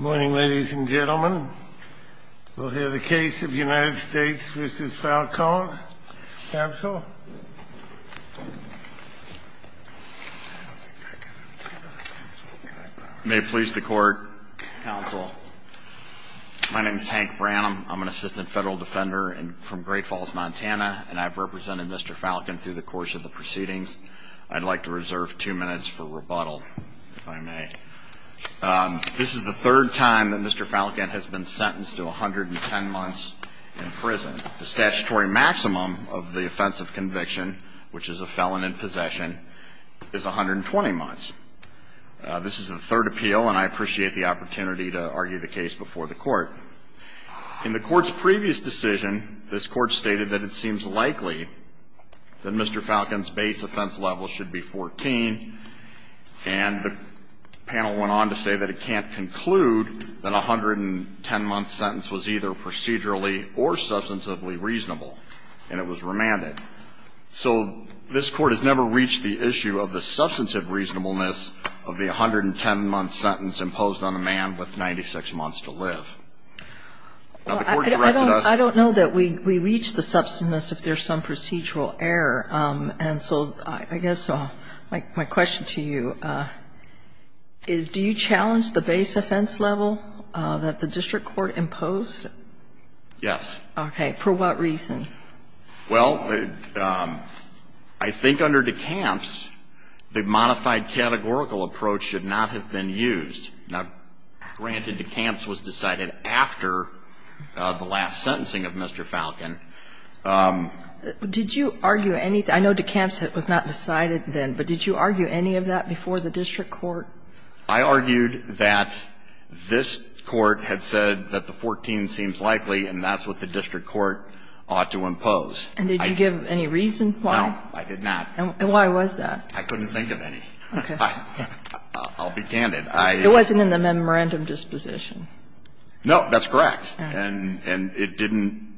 Morning ladies and gentlemen. We'll hear the case of United States v. Falcon. Counsel. May it please the court. Counsel. My name is Hank Branham. I'm an assistant federal defender from Great Falls, Montana, and I've represented Mr. Falcon through the course of the proceedings. I'd like to reserve two minutes for rebuttal, if I may. This is the third time that Mr. Falcon has been sentenced to 110 months in prison. The statutory maximum of the offense of conviction, which is a felon in possession, is 120 months. This is the third appeal, and I appreciate the opportunity to argue the case before the court. In the court's previous decision, this court stated that it seems likely that Mr. Falcon's base offense level should be 14, and the panel went on to say that it can't conclude that a 110-month sentence was either procedurally or substantively reasonable, and it was remanded. So this Court has never reached the issue of the substantive reasonableness of the 110-month sentence imposed on a man with 96 months to live. Now, the court directed us to do that. I don't know that we reach the substantiveness if there's some procedural error. And so I guess my question to you is, do you challenge the base offense level that the district court imposed? Yes. Okay. For what reason? Well, I think under DeCamps, the modified categorical approach should not have been used. Now, granted DeCamps was decided after the last sentencing of Mr. Falcon. Did you argue anything? I know DeCamps was not decided then, but did you argue any of that before the district court? I argued that this court had said that the 14 seems likely, and that's what the district court ought to impose. And did you give any reason why? No, I did not. And why was that? I couldn't think of any. Okay. I'll be candid. It wasn't in the memorandum disposition. No, that's correct. And it didn't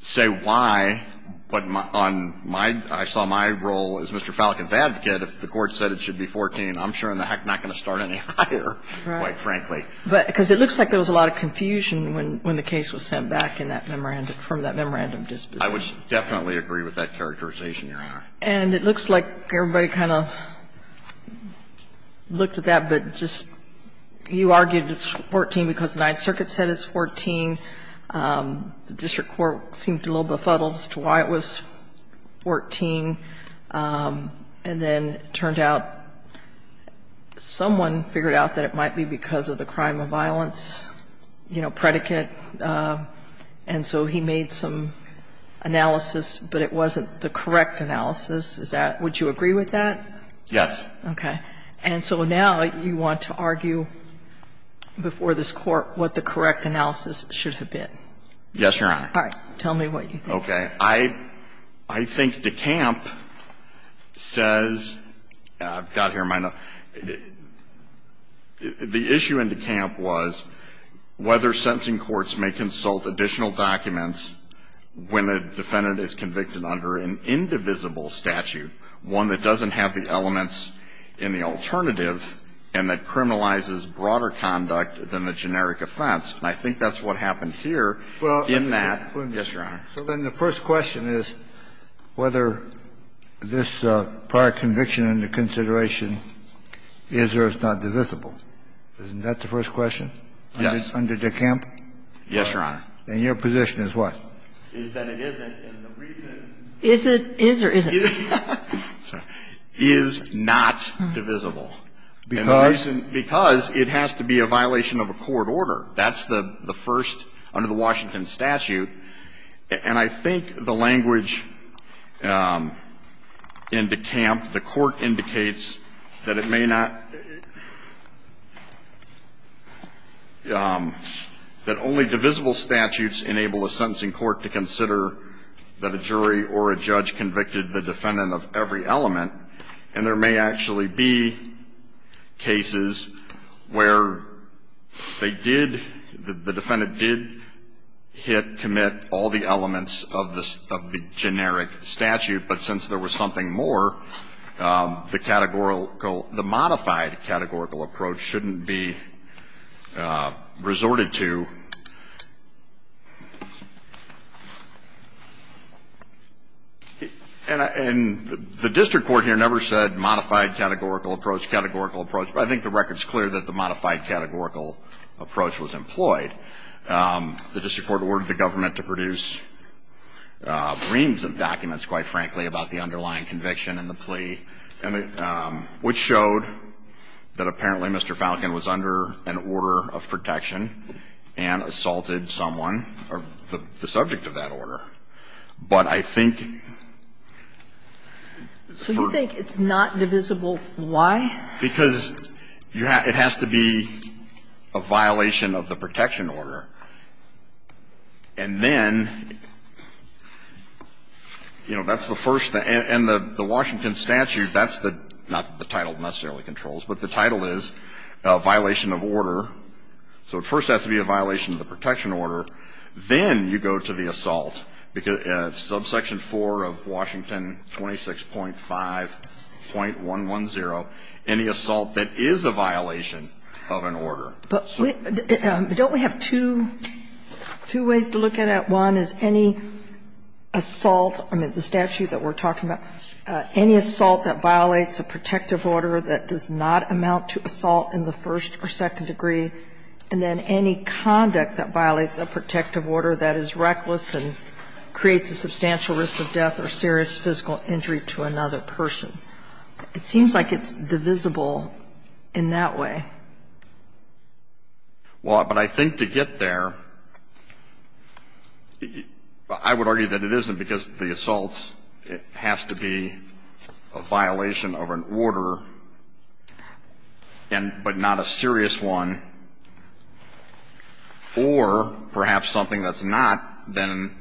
say why, but on my – I saw my role as Mr. Falcon's advocate, if the court said it should be 14, I'm sure in the heck not going to start any higher, quite frankly. Because it looks like there was a lot of confusion when the case was sent back in that memorandum, from that memorandum disposition. I would definitely agree with that characterization, Your Honor. And it looks like everybody kind of looked at that, but just you argued it's 14 because the Ninth Circuit said it's 14. The district court seemed a little befuddled as to why it was 14. And then it turned out someone figured out that it might be because of the crime of violence, you know, predicate. And so he made some analysis, but it wasn't the correct analysis. Would you agree with that? Yes. Okay. And so now you want to argue before this Court what the correct analysis should have been. Yes, Your Honor. All right. Tell me what you think. Okay. I think DeCamp says – I've got to hear mine up. The issue in DeCamp was whether sentencing courts may consult additional documents when a defendant is convicted under an indivisible statute, one that doesn't have the elements in the alternative and that criminalizes broader conduct than the generic offense. And I think that's what happened here in that. Yes, Your Honor. So then the first question is whether this prior conviction under consideration is or is not divisible. Isn't that the first question? Yes. Under DeCamp? Yes, Your Honor. And your position is what? Is that it isn't and the reason is that it isn't. Is it is or isn't? It is not divisible. Because? Because it has to be a violation of a court order. That's the first under the Washington statute. And I think the language in DeCamp, the Court indicates that it may not – that only divisible statutes enable a sentencing court to consider that a jury or a judge convicted the defendant of every element. And there may actually be cases where they did – the defendant did hit, commit all the elements of the generic statute, but since there was something more, the categorical – the modified categorical approach shouldn't be resorted to. And the district court here never said modified categorical approach, categorical approach, but I think the record is clear that the modified categorical approach was employed. The district court ordered the government to produce reams of documents, quite frankly, about the underlying conviction and the plea, which showed that apparently Mr. Falcon was under an order of protection and assaulted someone, or the subject of that order. But I think for the first time, it's not divisible. Why? Because it has to be a violation of the protection order. And then, you know, that's the first thing. And the Washington statute, that's the – not that the title necessarily controls, but the title is a violation of order. So it first has to be a violation of the protection order. Then you go to the assault. Subsection 4 of Washington 26.5.110, any assault that is a violation of an order. But don't we have two ways to look at it? One is any assault, I mean, the statute that we're talking about, any assault that violates a protective order that does not amount to assault in the first or second degree. And then any conduct that violates a protective order that is reckless and creates a substantial risk of death or serious physical injury to another person. It seems like it's divisible in that way. Well, but I think to get there, I would argue that it isn't, because the assault has to be a violation of an order, but not a serious one, or perhaps something that's not then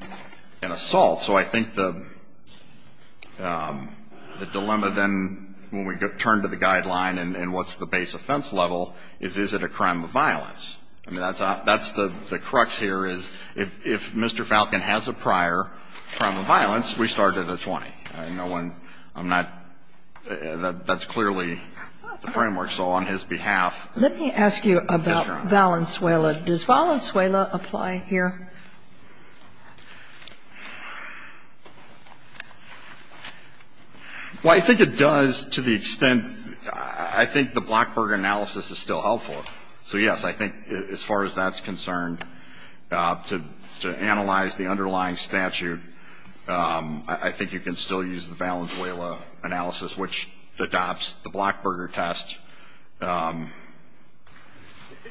an assault. So I think the dilemma then, when we turn to the guideline and what's the base offense level, is, is it a crime of violence? I mean, that's the crux here is, if Mr. Falcon has a prior crime of violence, we start at a 20. I know when I'm not – that's clearly the framework. So on his behalf, his Honor. Let me ask you about Valenzuela. Does Valenzuela apply here? Well, I think it does to the extent – I think the Blackburg analysis is still helpful. So, yes, I think as far as that's concerned, to analyze the underlying statute, I think you can still use the Valenzuela analysis, which adopts the Blackburger test.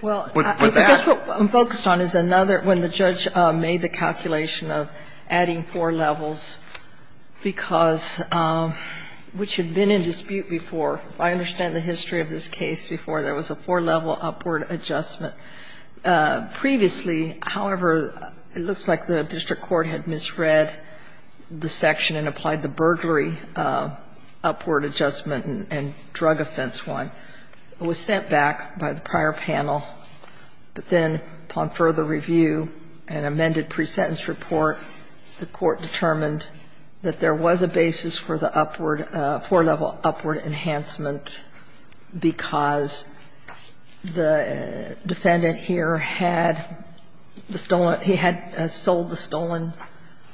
Well, I guess what I'm focused on is another – when the judge made the calculation of adding four levels, because – which had been in dispute before. I understand the history of this case before. There was a four-level upward adjustment. Previously, however, it looks like the district court had misread the section and applied the burglary upward adjustment and drug offense one. It was sent back by the prior panel, but then upon further review and amended pre-sentence report, the court determined that there was a basis for the upward – four-level upward enhancement, because the defendant here had the stolen – he had sold the stolen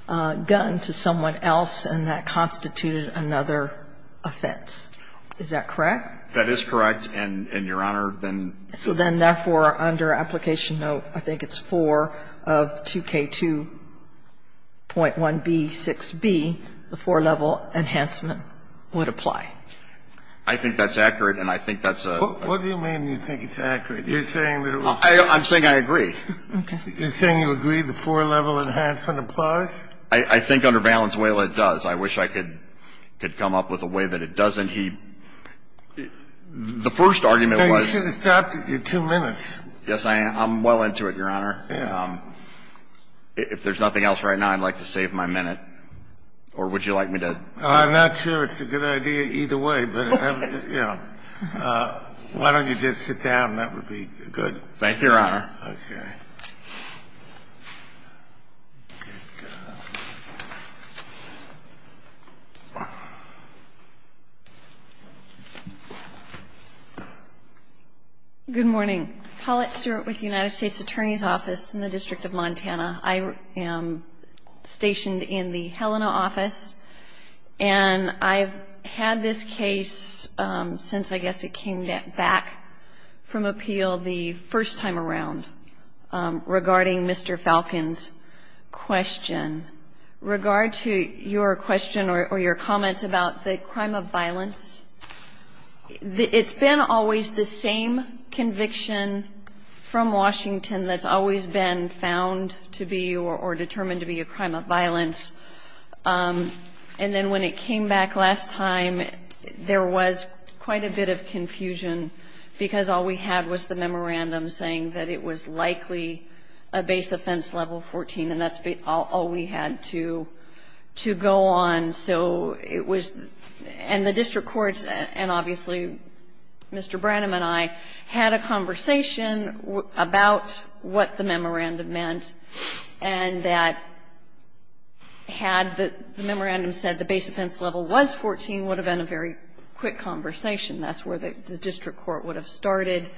gun to someone else, and that constituted another offense. Is that correct? That is correct, and, Your Honor, then – So then, therefore, under application note, I think it's 4 of 2K2.1b6b, the four-level enhancement would apply. I think that's accurate, and I think that's a – What do you mean you think it's accurate? You're saying that it was – I'm saying I agree. Okay. You're saying you agree the four-level enhancement applies? I think under Valenzuela it does. I wish I could come up with a way that it doesn't. He – the first argument was – No, you should have stopped at your two minutes. Yes, I am. I'm well into it, Your Honor. Yes. If there's nothing else right now, I'd like to save my minute. Or would you like me to – I'm not sure it's a good idea either way, but, you know, why don't you just sit down? That would be good. Thank you, Your Honor. Okay. Good morning. Paulette Stewart with the United States Attorney's Office in the District of Montana. I am stationed in the Helena office, and I've had this case since, I guess, it came back from appeal the first time around regarding Mr. Falcon's question. In regard to your question or your comment about the crime of violence, it's been always the same conviction from Washington that's always been found to be or determined to be a crime of violence. And then when it came back last time, there was quite a bit of confusion because all we had was the memorandum saying that it was likely a base offense level 14, and that's all we had to go on. So it was – and the district courts, and obviously Mr. Branham and I, had a conversation about what the memorandum meant, and that had the memorandum said the base offense level was 14, would have been a very quick conversation. That's where the district court would have started.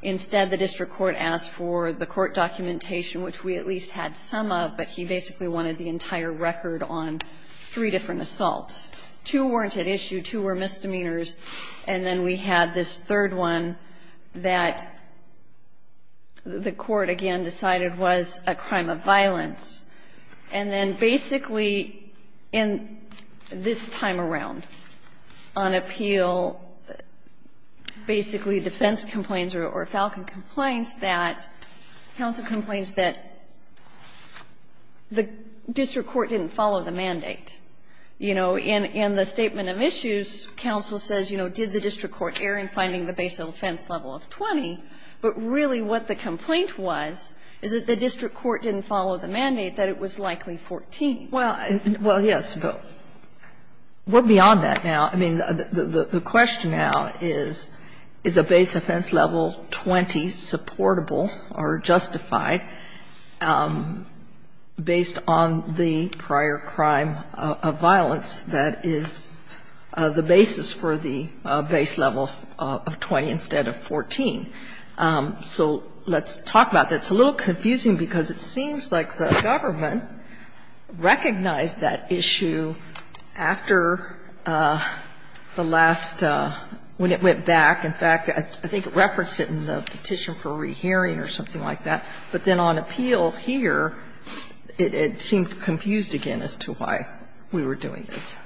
Instead, the district court asked for the court documentation, which we at least had some of, but he basically wanted the entire record on three different assaults. Two weren't at issue. Two were misdemeanors. And then we had this third one that the court, again, decided was a crime of violence. And then basically in this time around, on appeal, basically defense complains or falcon complains, that counsel complains that the district court didn't follow the mandate. You know, in the statement of issues, counsel says, you know, did the district court err in finding the base offense level of 20, but really what the complaint was is that the district court didn't follow the mandate, that it was likely 14. Well, yes, but we're beyond that now. I mean, the question now is, is a base offense level 20 supportable or justified based on the prior crime of violence that is the basis for the base level of 20 instead of 14? So let's talk about that. It's a little confusing because it seems like the government recognized that issue after the last, when it went back. In fact, I think it referenced it in the petition for rehearing or something like that. But then on appeal here, it seemed confused again as to why we were doing this.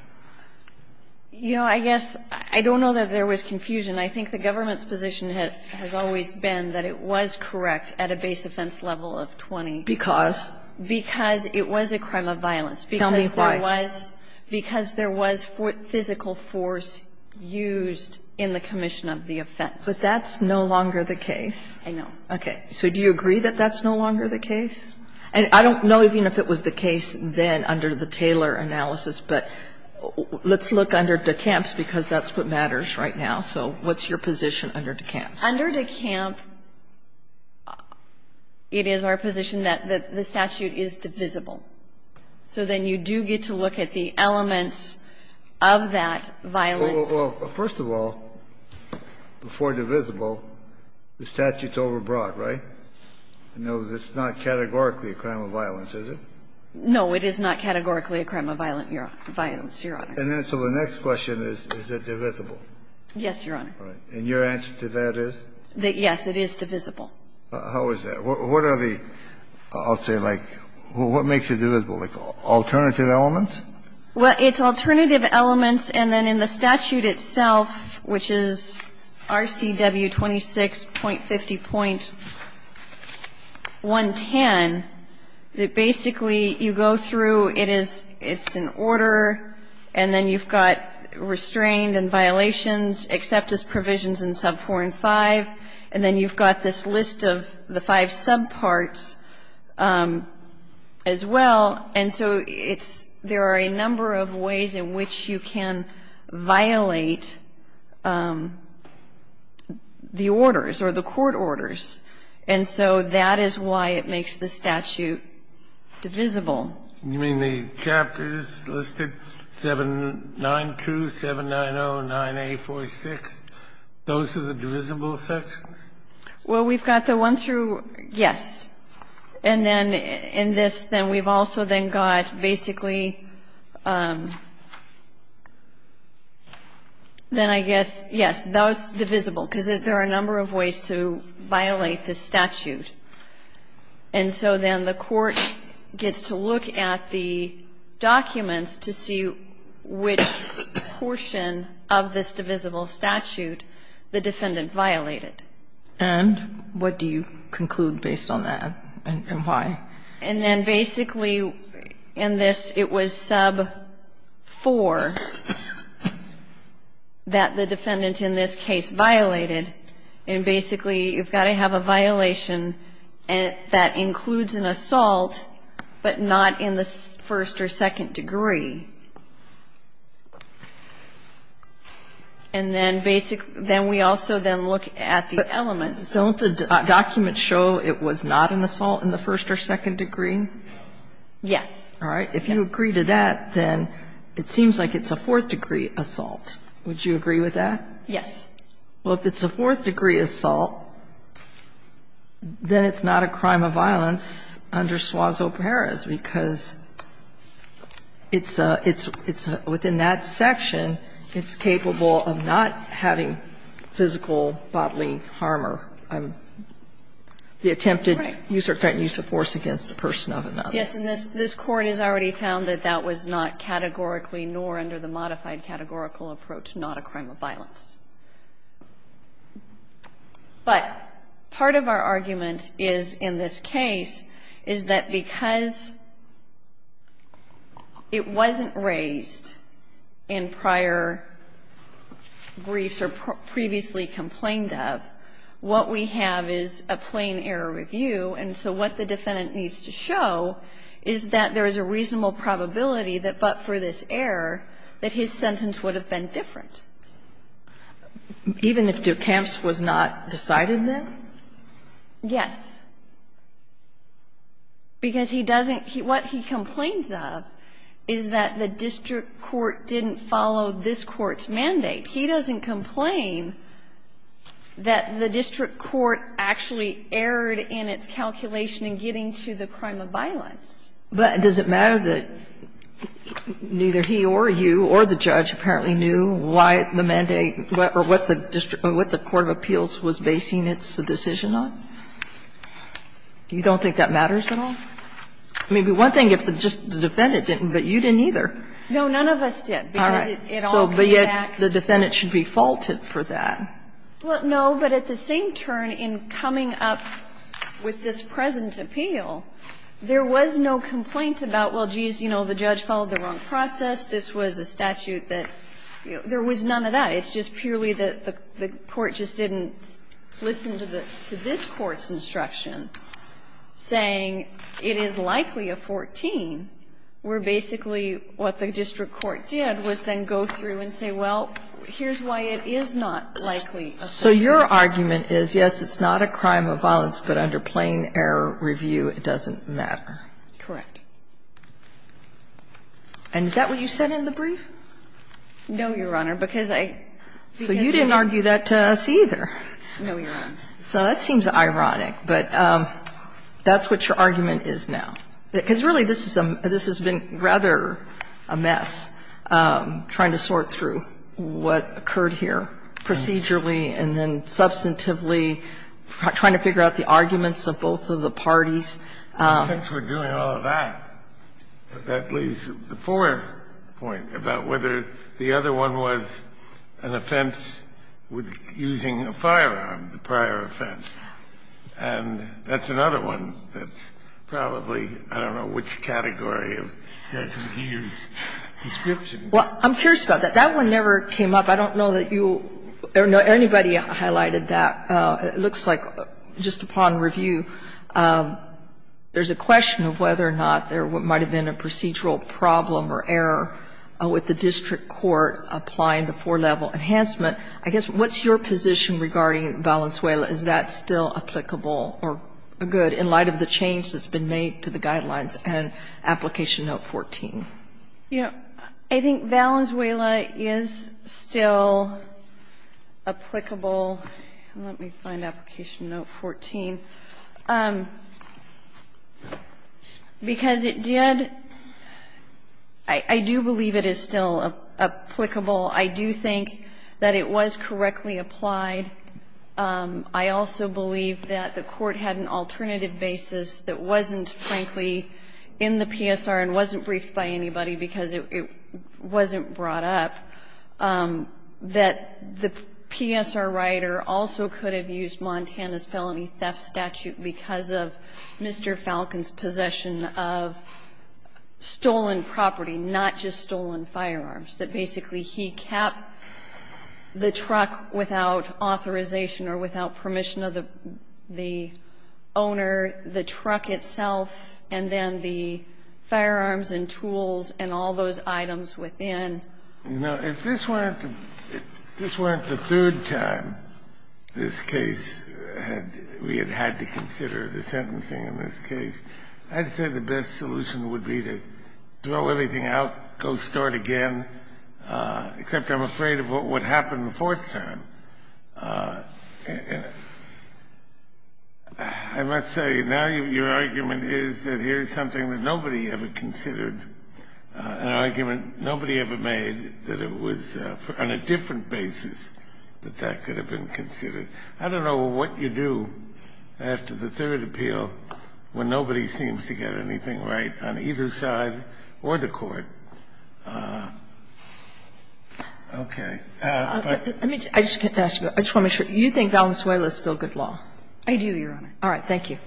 You know, I guess, I don't know that there was confusion. I think the government's position has always been that it was correct at a base offense level of 20. Because? Because it was a crime of violence. Tell me why. Because there was physical force used in the commission of the offense. But that's no longer the case. I know. Okay. So do you agree that that's no longer the case? And I don't know even if it was the case then under the Taylor analysis, but let's look under DeCamps because that's what matters right now. So what's your position under DeCamps? Under DeCamps, it is our position that the statute is divisible. So then you do get to look at the elements of that violent. Well, first of all, before divisible, the statute's overbrought, right? You know, it's not categorically a crime of violence, is it? No, it is not categorically a crime of violence, Your Honor. And then so the next question is, is it divisible? Yes, Your Honor. And your answer to that is? Yes, it is divisible. How is that? What are the, I'll say like, what makes it divisible? Like alternative elements? Well, it's alternative elements, and then in the statute itself, which is RCW 26.50.110, that basically you go through, it is, it's in order, and then you've got restrained and violations, except as provisions in sub 4 and 5, and then you've got this list of the five subparts as well, and so it's, there are a number of ways in which you can violate the orders or the court orders, and so that is why it makes the statute divisible. You mean the chapters listed, 792, 790, 9A46, those are the divisible sections? Well, we've got the one through, yes. And then in this, then we've also then got basically, then I guess, yes, that's divisible, because there are a number of ways to violate this statute. And so then the court gets to look at the documents to see which portion of this divisible statute the defendant violated. And what do you conclude based on that, and why? And then basically in this, it was sub 4 that the defendant in this case violated, and basically you've got to have a violation that includes an assault, but not in the first or second degree. And then basically, then we also then look at the elements. But don't the documents show it was not an assault in the first or second degree? Yes. All right. If you agree to that, then it seems like it's a fourth degree assault. Would you agree with that? Yes. Well, if it's a fourth degree assault, then it's not a crime of violence under because it's a, it's a, within that section, it's capable of not having physical, bodily harm or the attempted use or threatened use of force against the person of another. Yes. And this Court has already found that that was not categorically nor under the modified categorical approach, not a crime of violence. But part of our argument is, in this case, is that because it wasn't raised in prior briefs or previously complained of, what we have is a plain error review. And so what the defendant needs to show is that there is a reasonable probability that but for this error, that his sentence would have been different. Even if Dukamp's was not decided then? Yes. Because he doesn't, what he complains of is that the district court didn't follow this Court's mandate. He doesn't complain that the district court actually erred in its calculation in getting to the crime of violence. But does it matter that neither he or you or the judge apparently knew why the mandate or what the court of appeals was basing its decision on? You don't think that matters at all? Maybe one thing, if just the defendant didn't, but you didn't either. No, none of us did. All right. So, but yet, the defendant should be faulted for that. Well, no. But at the same turn, in coming up with this present appeal, there was no complaint about, well, geez, you know, the judge followed the wrong process, this was a statute that, there was none of that. It's just purely that the court just didn't listen to the, to this Court's instruction, saying it is likely a 14, where basically what the district court did was then go through and say, well, here's why it is not likely a 14. And so that's what your argument is, yes, it's not a crime of violence, but under plain error review, it doesn't matter. Correct. And is that what you said in the brief? No, Your Honor, because I, because we didn't. So you didn't argue that to us either. No, Your Honor. So that seems ironic, but that's what your argument is now. Because really this is a, this has been rather a mess, trying to sort through what occurred here procedurally and then substantively, trying to figure out the arguments of both of the parties. Thanks for doing all of that. But that leaves the fore point about whether the other one was an offense using a firearm, the prior offense, and that's another one that's probably, I don't know which category of judge would use descriptions. Well, I'm curious about that. That one never came up. I don't know that you or anybody highlighted that. It looks like just upon review, there's a question of whether or not there might have been a procedural problem or error with the district court applying the four-level enhancement. I guess what's your position regarding Valenzuela? Is that still applicable or good in light of the change that's been made to the guidelines and Application Note 14? You know, I think Valenzuela is still applicable. Let me find Application Note 14. Because it did, I do believe it is still applicable. I do think that it was correctly applied. I also believe that the Court had an alternative basis that wasn't, frankly, in the PSR and wasn't briefed by anybody because it wasn't brought up, that the PSR writer also could have used Montana's felony theft statute because of Mr. Falcon's possession of stolen property, not just stolen firearms, that basically he kept the truck without authorization or without permission of the owner, the truck itself, and then the firearms and tools and all those items within. You know, if this weren't the third time this case, we had had to consider the sentencing in this case, I'd say the best solution would be to throw everything out, go start again, except I'm afraid of what would happen the fourth time. I must say, now your argument is that here's something that nobody ever considered, an argument nobody ever made, that it was on a different basis that that could have been considered. I don't know what you do after the third appeal when nobody seems to get anything right on either side or the Court. Okay. Let me just ask you. I just want to make sure. You think Valenzuela is still good law? I do, Your Honor. All right. Thank you.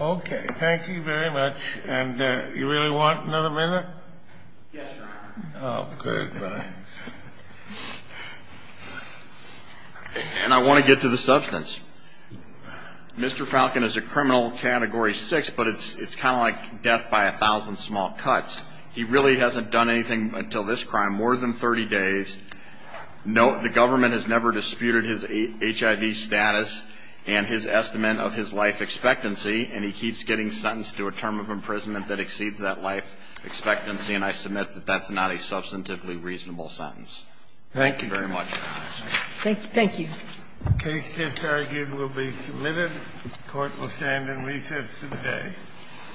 Okay. Thank you very much. And you really want another minute? Yes, Your Honor. Oh, good. And I want to get to the substance. Mr. Falcon is a criminal Category 6, but it's kind of like death by a thousand small cuts. He really hasn't done anything until this crime, more than 30 days. The government has never disputed his HIV status and his estimate of his life expectancy, and he keeps getting sentenced to a term of imprisonment that exceeds that life expectancy, and I submit that that's not a substantively reasonable sentence. Thank you very much, Your Honor. Thank you. The case just argued will be submitted. The Court will stand in recess to the day.